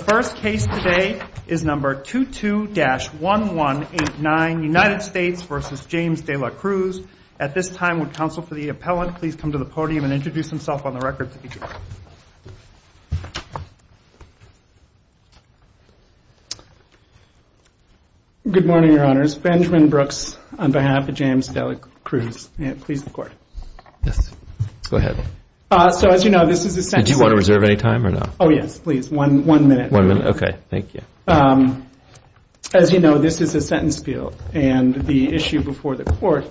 The first case today is number 22-1189 United States v. James De La Cruz. At this time would counsel for the appellant please come to the podium and introduce himself on the record. Good morning your honors. Benjamin Brooks on behalf of James De La Cruz. So as you know this is a sentence appeal. As you know this is a sentence appeal and the issue before the court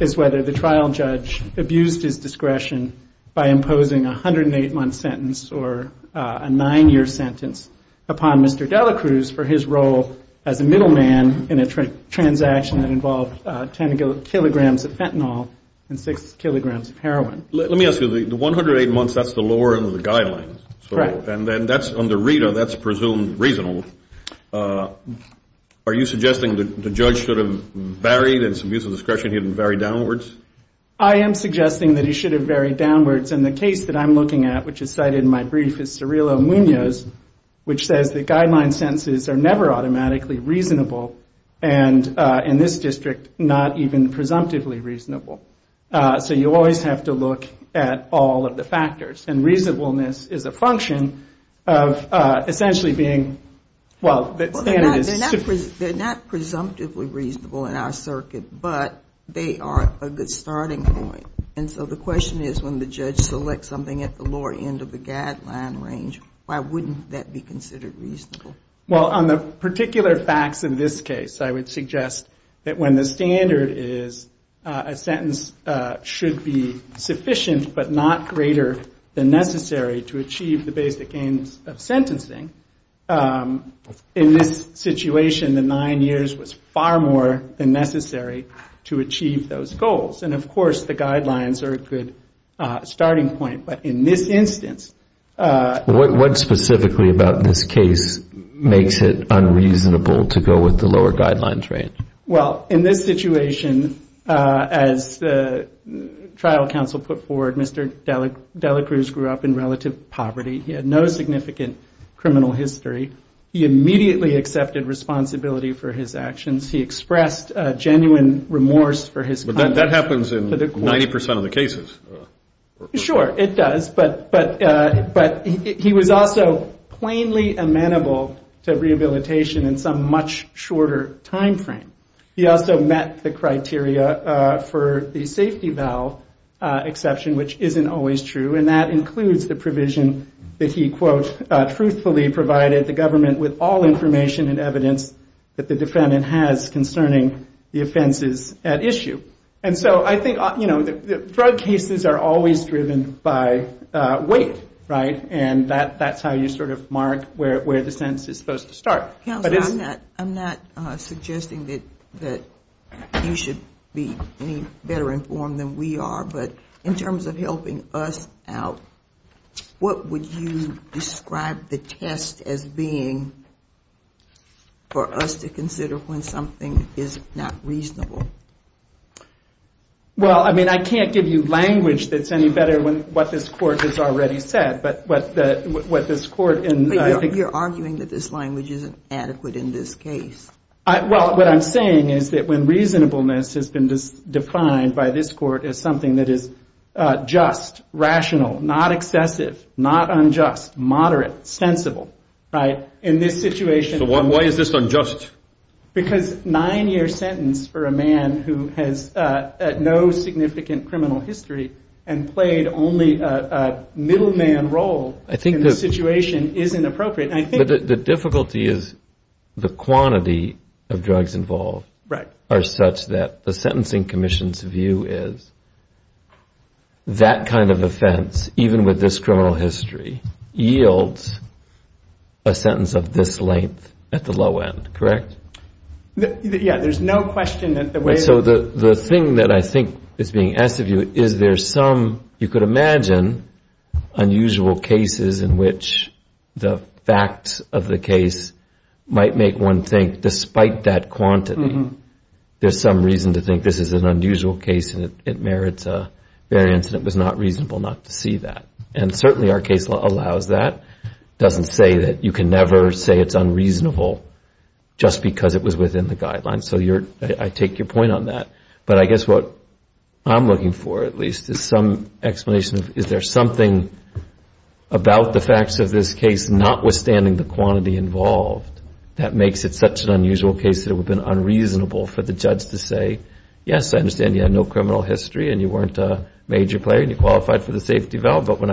is whether the trial judge abused his discretion by imposing a 108 month sentence or a nine year sentence upon Mr. De La Cruz for his role as a middleman in a transaction that involved 10 kilograms of fentanyl and 6 kilograms of heroin. Let me ask you, the 108 months, that's the lower end of the guidelines. Correct. And then that's under RETA, that's presumed reasonable. Are you suggesting that the judge should have varied in some use of discretion, he didn't vary downwards? I am suggesting that he should have varied downwards and the case that I'm looking at, which is cited in my brief, is Cirillo Munoz, which says that guideline sentences are never automatically reasonable and in this district not even presumptively reasonable. So you always have to look at all of the factors and reasonableness is a function of essentially being, well the standard is... They're not presumptively reasonable in our circuit, but they are a good starting point. And so the question is when the judge selects something at the lower end of the guideline range, why wouldn't that be considered reasonable? Well, on the particular facts of this case, I would suggest that when the standard is a sentence should be sufficient but not greater than necessary to achieve the basic aims of sentencing, in this situation, the nine years was far more than necessary to achieve those goals. And of course, the guidelines are a good starting point. But in this instance... What specifically about this case makes it unreasonable to go with the lower guidelines range? Well, in this situation, as the trial counsel put forward, Mr. Dela Cruz grew up in relative poverty. He had no significant criminal history. He immediately accepted responsibility for his actions. He expressed genuine remorse for his... But that happens in 90% of the cases. Sure, it does. But he was also plainly amenable to rehabilitation in some much shorter time frame. He also met the criteria for the safety valve exception, which isn't always true. And that includes the provision that he, quote, truthfully provided the government with all cases are always driven by weight, right? And that's how you sort of mark where the sentence is supposed to start. Counsel, I'm not suggesting that you should be any better informed than we are, but in terms of helping us out, what would you describe the test as being for us to consider when something is not reasonable? Well, I mean, I can't give you language that's any better than what this court has already said, but what this court... You're arguing that this language isn't adequate in this case. Well, what I'm saying is that when reasonableness has been defined by this court as something that is just, rational, not excessive, not unjust, moderate, sensible, right? In this situation... So why is this unjust? Because nine-year sentence for a man who has no significant criminal history and played only a middleman role in the situation is inappropriate. The difficulty is the quantity of drugs involved are such that the Sentencing Commission's view is that kind of offense, even with this Yeah, there's no question that the way... So the thing that I think is being asked of you, is there some... You could imagine unusual cases in which the facts of the case might make one think, despite that quantity, there's some reason to think this is an unusual case and it merits a variance and it was not reasonable not to see that. And certainly our case allows that. It doesn't say that you can never say it's unreasonable just because it was within the guidelines. So I take your point on that. But I guess what I'm looking for, at least, is some explanation of is there something about the facts of this case, notwithstanding the quantity involved, that makes it such an unusual case that it would have been unreasonable for the judge to say, yes, I understand you had no I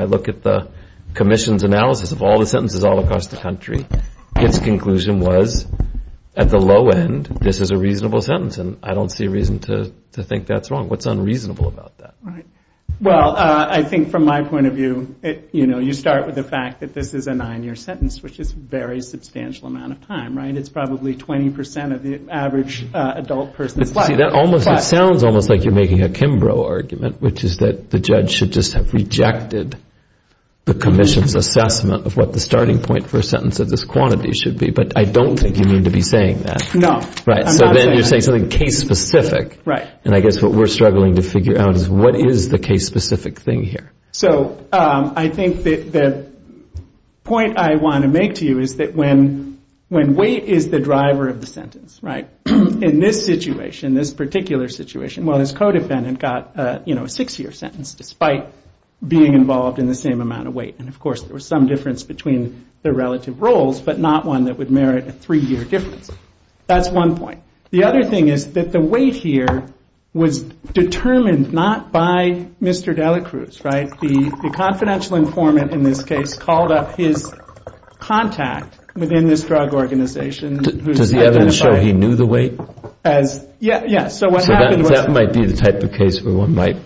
look at the Commission's analysis of all the sentences all across the country. Its conclusion was, at the low end, this is a reasonable sentence. And I don't see a reason to think that's wrong. What's unreasonable about that? Well, I think from my point of view, you start with the fact that this is a nine-year sentence, which is a very substantial amount of time. It's probably 20% of the average adult person's life. See, that sounds almost like you're making a Kimbrough argument, which is that the judge should just have rejected the Commission's assessment of what the starting point for a sentence of this quantity should be. But I don't think you need to be saying that. No, I'm not saying that. Right. So then you're saying something case-specific. Right. And I guess what we're struggling to figure out is what is the case-specific thing here? So I think the point I want to make to you is that when weight is the driver of the sentence, right, in this situation, this particular situation, well, his codependent got a six-year sentence despite being involved in the same amount of weight. And, of course, there was some difference between the relative roles, but not one that would merit a three-year difference. That's one point. The other thing is that the weight here was determined not by Mr. Delacruz, right? The confidential informant in this case called up his contact within this drug organization. Does the evidence show he knew the weight? Yes. So what happened was. So that might be the type of case where one might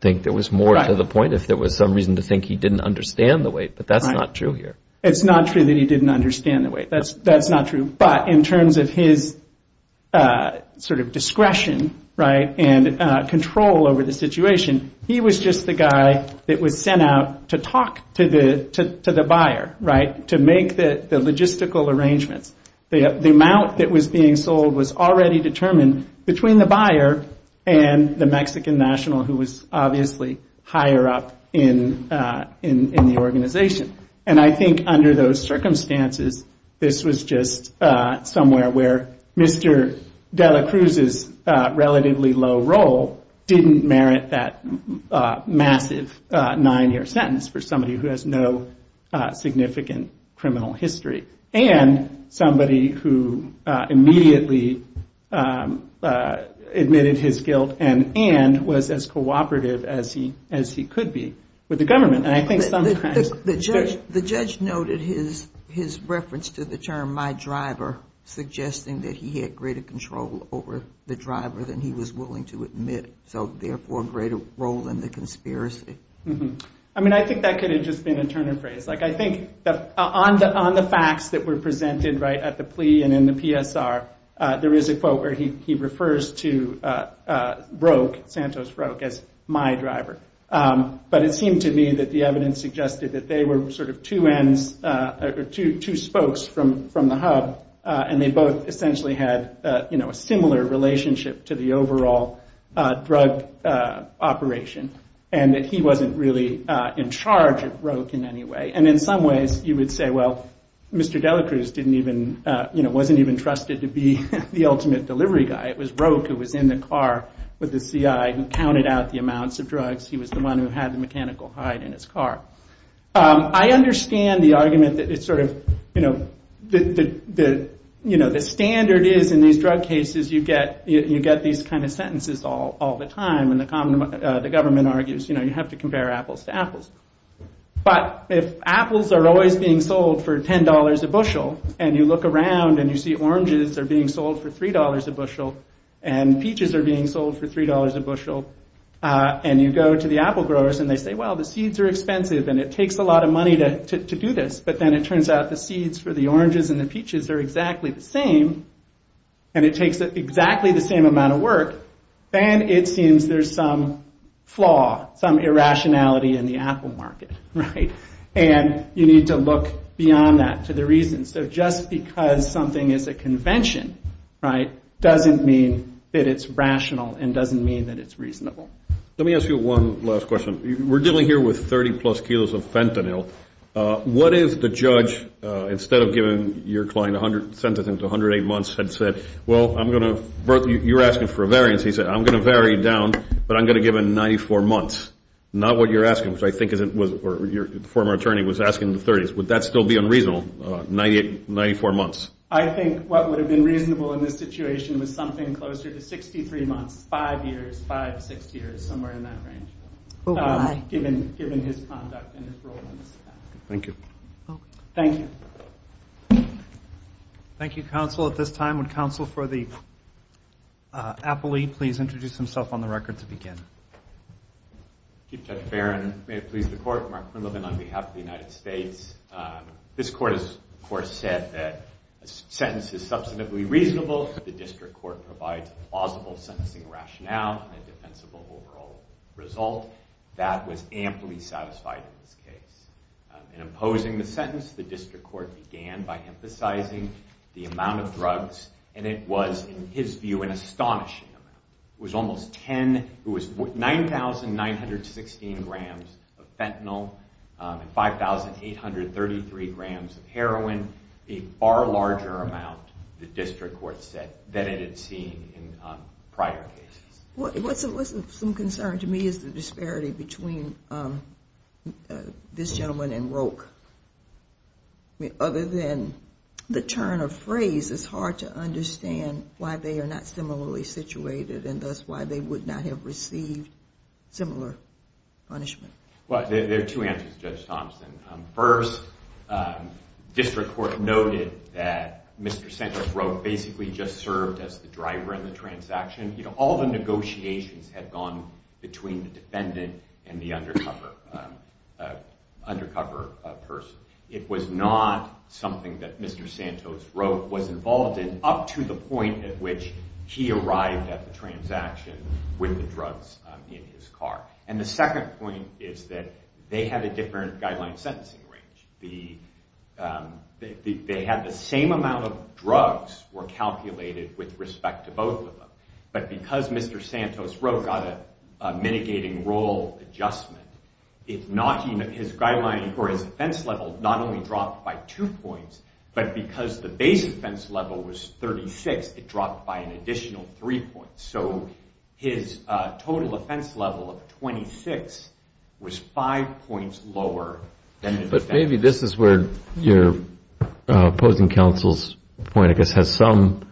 think there was more to the point if there was some reason to think he didn't understand the weight. But that's not true here. It's not true that he didn't understand the weight. That's not true. But in terms of his sort of discretion, right, and control over the situation, he was just the guy that was sent out to talk to the buyer, right, to make the logistical arrangements. The amount that was being sold was already determined between the buyer and the Mexican national, who was obviously higher up in the organization. And I think under those circumstances, this was just somewhere where Mr. Delacruz's relatively low role didn't merit that massive nine-year sentence for somebody who has no significant criminal history. And somebody who immediately admitted his guilt and was as cooperative as he could be with the government. And I think sometimes. The judge noted his reference to the term, my driver, suggesting that he had greater control over the driver than he was willing to admit, so therefore a greater role in the conspiracy. I mean, I think that could have just been a turn of phrase. Like, I think on the facts that were presented, right, at the plea and in the PSR, there is a quote where he refers to Roque, Santos Roque, as my driver. But it seemed to me that the evidence suggested that they were sort of two ends, or two spokes from the hub, and they both essentially had a similar relationship to the overall drug operation, and that he wasn't really in charge of Roque in any way. And in some ways, you would say, well, Mr. Delacruz wasn't even trusted to be the ultimate delivery guy. It was Roque who was in the car with the CI who counted out the amounts of drugs. He was the one who had the mechanical hide in his car. I understand the argument that it's sort of, you know, the standard is in these drug cases, you get these kind of sentences all the time, and the government argues, you know, you have to compare apples to apples. But if apples are always being sold for $10 a bushel, and you look around and you see oranges are being sold for $3 a bushel, and peaches are being sold for $3 a bushel, and you go to the apple growers and they say, well, the seeds are expensive, and it takes a lot of money to do this, but then it turns out the seeds for the oranges and the peaches are exactly the same, and it takes exactly the same amount of work, then it seems there's some flaw, some irrationality in the apple market, right? And you need to look beyond that to the reason. So just because something is a convention, right, doesn't mean that it's rational and doesn't mean that it's reasonable. Let me ask you one last question. We're dealing here with 30-plus kilos of fentanyl. What if the judge, instead of giving your client a sentence of 108 months, had said, well, you're asking for a variance. He said, I'm going to vary it down, but I'm going to give him 94 months. Not what you're asking, which I think is what your former attorney was asking in the 30s. Would that still be unreasonable, 94 months? I think what would have been reasonable in this situation was something closer to 63 months, five years, five, six years, somewhere in that range, given his conduct and his role in this. Thank you. Thank you. Thank you, counsel. At this time, would counsel for the appellee please introduce himself on the record to begin? Chief Judge Barron. May it please the court. Mark Quinlivan on behalf of the United States. This court has, of course, said that a sentence is substantively reasonable. The district court provides a plausible sentencing rationale and a defensible overall result. That was amply satisfied in this case. In imposing the sentence, the district court began by emphasizing the amount of drugs, and it was, in his view, an astonishing amount. It was almost 10. It was 9,916 grams of fentanyl and 5,833 grams of heroin, a far larger amount, the district court said, than it had seen in prior cases. What's of some concern to me is the disparity between this gentleman and Roque. I mean, other than the turn of phrase, it's hard to understand why they are not similarly situated and thus why they would not have received similar punishment. Well, there are two answers, Judge Thompson. First, district court noted that Mr. Santos Roque basically just served as the driver in the transaction. All the negotiations had gone between the defendant and the undercover person. It was not something that Mr. Santos Roque was involved in up to the point at which he arrived at the transaction with the drugs in his car. And the second point is that they had a different guideline sentencing range. They had the same amount of drugs were calculated with respect to both of them, but because Mr. Santos Roque got a mitigating role adjustment, his guideline for his offense level not only dropped by two points, but because the base offense level was 36, it dropped by an additional three points. So his total offense level of 26 was five points lower than the defendant. But maybe this is where your opposing counsel's point, I guess, has some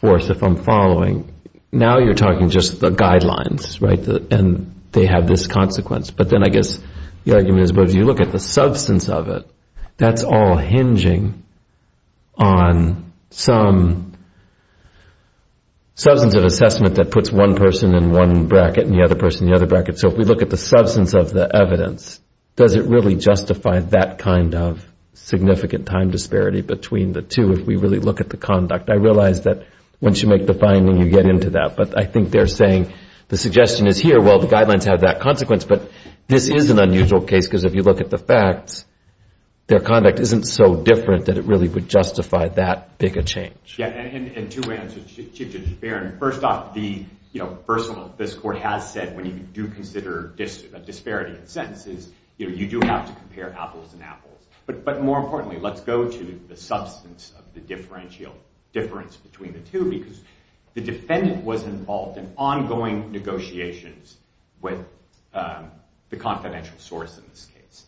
force, if I'm following. Now you're talking just the guidelines, right, and they have this consequence. But then I guess the argument is, well, if you look at the substance of it, that's all hinging on some substance of assessment that puts one person in one bracket and the other person in the other bracket. So if we look at the substance of the evidence, does it really justify that kind of significant time disparity between the two? If we really look at the conduct, I realize that once you make the finding, you get into that. But I think they're saying the suggestion is here, well, the guidelines have that consequence, but this is an unusual case because if you look at the facts, their conduct isn't so different that it really would justify that big a change. Yeah, and two answers should just bear. First off, the first one this court has said when you do consider a disparity in sentences, you do have to compare apples and apples. But more importantly, let's go to the substance of the differential difference between the two because the defendant was involved in ongoing negotiations with the confidential source in this case.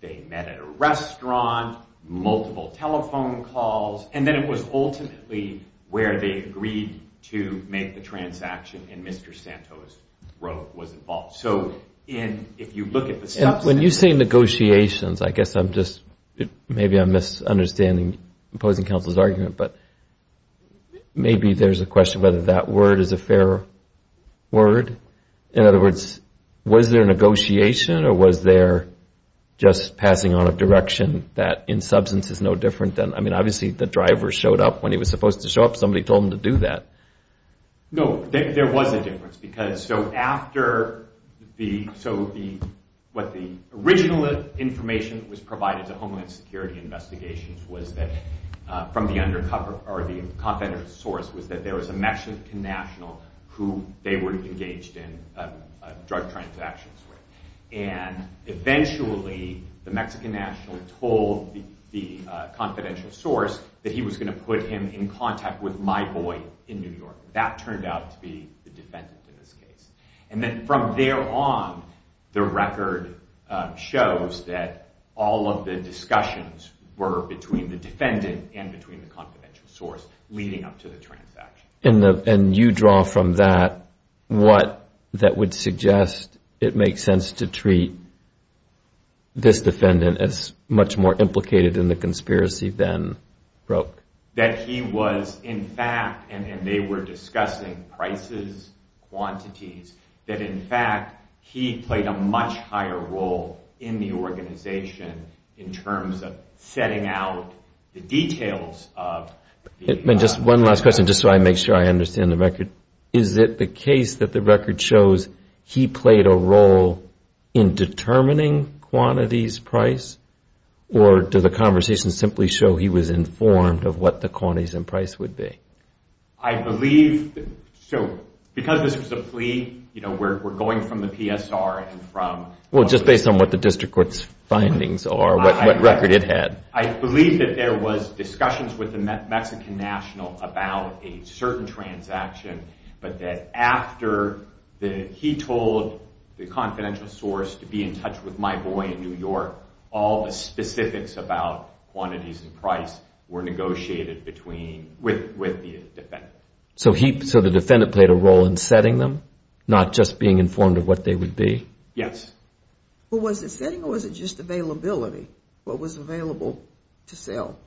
They met at a restaurant, multiple telephone calls, and then it was ultimately where they agreed to make the transaction, and Mr. Santos was involved. So if you look at the substance... When you say negotiations, I guess I'm just, I'm just understanding, opposing counsel's argument, but maybe there's a question whether that word is a fair word. In other words, was there negotiation, or was there just passing on a direction that in substance is no different than... I mean, obviously the driver showed up when he was supposed to show up. Somebody told him to do that. No, there was a difference because so after the... From the confidential source was that there was a Mexican national who they were engaged in drug transactions with, and eventually the Mexican national told the confidential source that he was going to put him in contact with my boy in New York. That turned out to be the defendant in this case. And then from there on, the record shows that all of the discussions were between the defendant and between the confidential source leading up to the transaction. And you draw from that what that would suggest it makes sense to treat this defendant as much more implicated in the conspiracy than Broek. That he was in fact, and they were discussing prices, quantities, that in fact he played a much higher role in the organization in terms of setting out the details of... And just one last question, just so I make sure I understand the record. Is it the case that the record shows he played a role in determining quantities, price, or do the conversations simply show he was informed of what the quantities and price would be? I believe, so because this was a plea, we're going from the PSR and from... Well, just based on what the district court's findings are, what record it had. I believe that there was discussions with the Mexican national about a certain transaction, but that after he told the confidential source to be in touch with my boy in New York, all the specifics about quantities and price were negotiated with the defendant. So the defendant played a role in setting them, not just being informed of what they would be? Yes. Well, was it setting or was it just availability? What was available to sell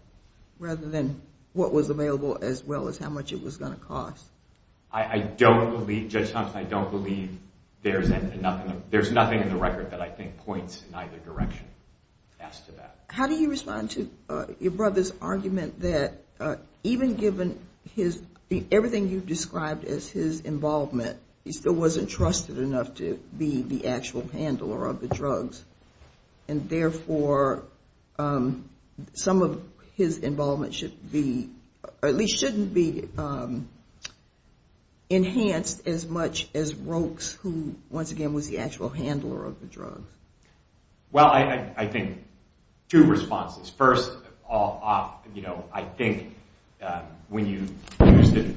rather than what was available as well as how much it was going to cost? I don't believe, Judge Thompson, I don't believe there's nothing in the record that I think points in either direction as to that. How do you respond to your brother's argument that even given his, everything you've described as his involvement, he still wasn't trusted enough to be the actual handler of the drugs and therefore some of his involvement should be, or at least shouldn't be enhanced as much as Rokes, who once again was the actual handler of the drugs? Well, I think two responses. First, I think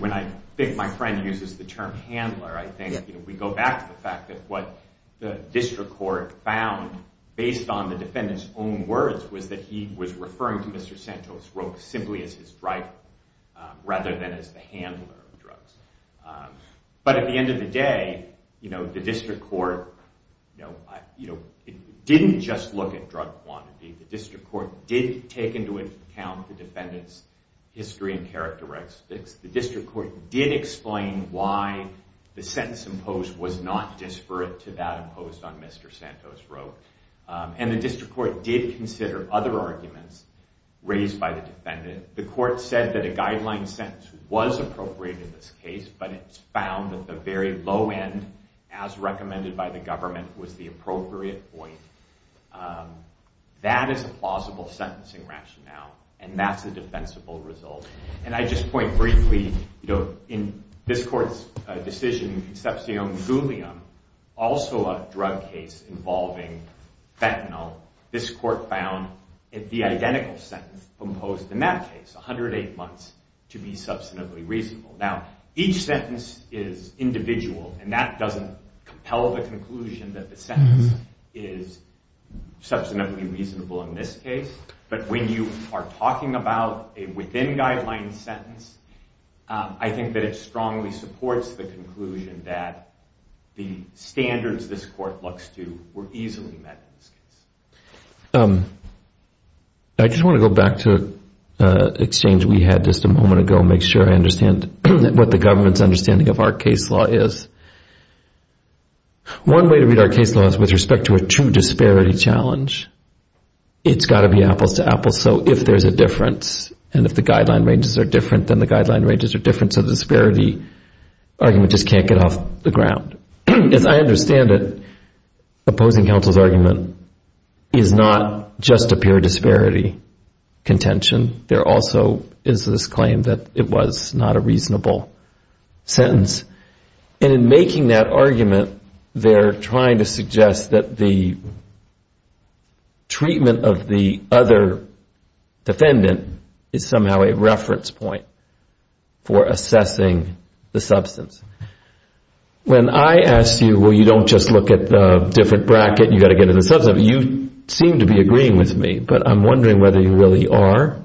when I think my friend uses the term handler, I think we go back to the fact that what the district court found based on the defendant's own words was that he was referring to Mr. Santos Rokes simply as his driver rather than as the handler of the drugs. But at the end of the day, the district court didn't just look at drug quantity. The district court did take into account the defendant's history and characteristics. The district court did explain why the sentence imposed was not disparate to that imposed on Mr. Santos Rokes. And the district court did consider other arguments raised by the defendant. The court said that a guideline sentence was appropriate in this case, but it's found that the very low end, as recommended by the government, was the appropriate point. That is a plausible sentencing rationale, and that's a defensible result. And I just point briefly, in this court's decision, Concepcion Gulliam, also a drug case involving fentanyl, this court found the identical sentence imposed in that case, 108 months, to be substantively reasonable. Now, each sentence is individual, and that doesn't compel the conclusion that the sentence is substantively reasonable in this case. But when you are talking about a within-guideline sentence, I think that it strongly supports the conclusion that the standards this court looks to were easily met in this case. I just want to go back to an exchange we had just a moment ago and make sure I understand what the government's understanding of our case law is. One way to read our case law is with respect to a true disparity challenge. It's got to be apples to apples, so if there's a difference, and if the guideline ranges are different, then the guideline ranges are different, so the disparity argument just can't get off the ground. As I understand it, opposing counsel's argument is not just a pure disparity contention. There also is this claim that it was not a reasonable sentence. And in making that argument, they're trying to suggest that the treatment of the other defendant is somehow a reference point for assessing the substance. When I ask you, well, you don't just look at the different bracket, you've got to get to the substance, you seem to be agreeing with me, but I'm wondering whether you really are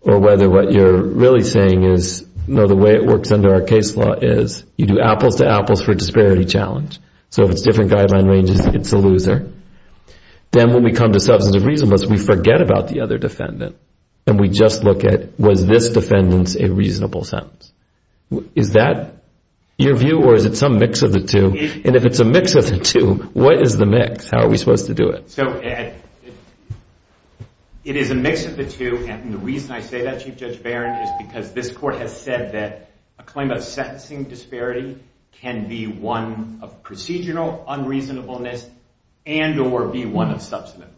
or whether what you're really saying is, no, the way it works under our case law is you do apples to apples for a disparity challenge. So if it's different guideline ranges, it's a loser. Then when we come to substantive reasonableness, we forget about the other defendant and we just look at was this defendant's a reasonable sentence. Is that your view or is it some mix of the two? And if it's a mix of the two, what is the mix? How are we supposed to do it? So, Ed, it is a mix of the two, and the reason I say that, Chief Judge Barron, is because this court has said that a claim of sentencing disparity can be one of procedural unreasonableness and or be one of substantive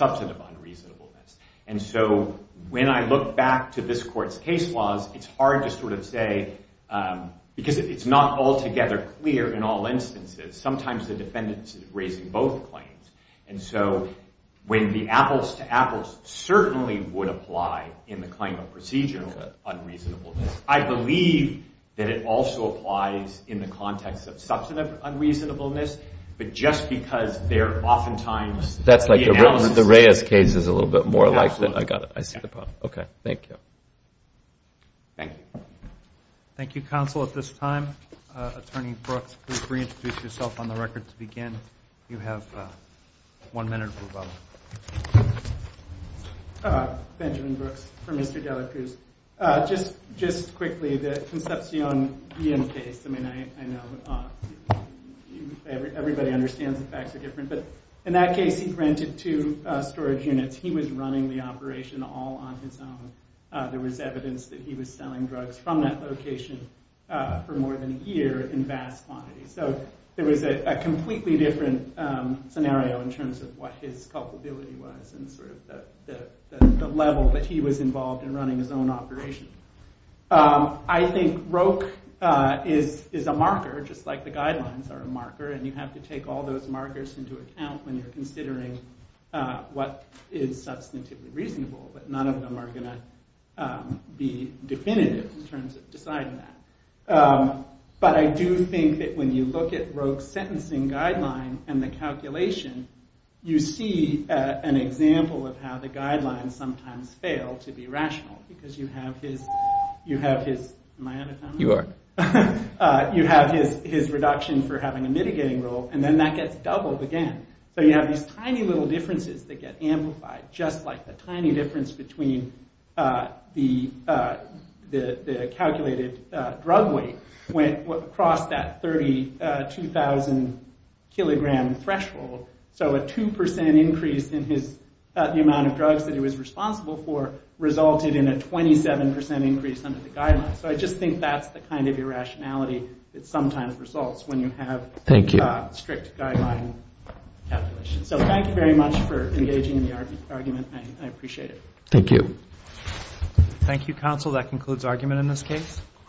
unreasonableness. And so when I look back to this court's case laws, it's hard to sort of say, because it's not altogether clear in all instances. Sometimes the defendant's raising both claims. And so when the apples to apples certainly would apply in the claim of procedural unreasonableness, I believe that it also applies in the context of substantive unreasonableness, but just because they're oftentimes... The Reyes case is a little bit more like that. I see the problem. Okay. Thank you. Thank you. Thank you, counsel. At this time, Attorney Brooks, please reintroduce yourself on the record to begin. You have one minute or so. Benjamin Brooks for Mr. Delacruz. Just quickly, the Concepcion case, I mean, I know everybody understands the facts are different, but in that case, he granted two storage units. He was running the operation all on his own. There was evidence that he was selling drugs from that location for more than a year in vast quantities. So there was a completely different scenario in terms of what his culpability was and sort of the level that he was involved in running his own operation. I think Roke is a marker, just like the guidelines are a marker, and you have to take all those markers into account when you're considering what is substantively reasonable, but none of them are going to be definitive in terms of deciding that. But I do think that when you look at Roke's sentencing guideline and the calculation, you see an example of how the guidelines sometimes fail to be rational because you have his... Am I out of time? You are. You have his reduction for having a mitigating role, and then that gets doubled again. So you have these tiny little differences that get amplified, just like the tiny difference between the calculated drug weight across that 32,000-kilogram threshold. So a 2% increase in the amount of drugs that he was responsible for resulted in a 27% increase under the guidelines. So I just think that's the kind of irrationality that sometimes results when you have strict guideline calculations. So thank you very much for engaging in the argument. I appreciate it. Thank you. Thank you, counsel. That concludes argument in this case.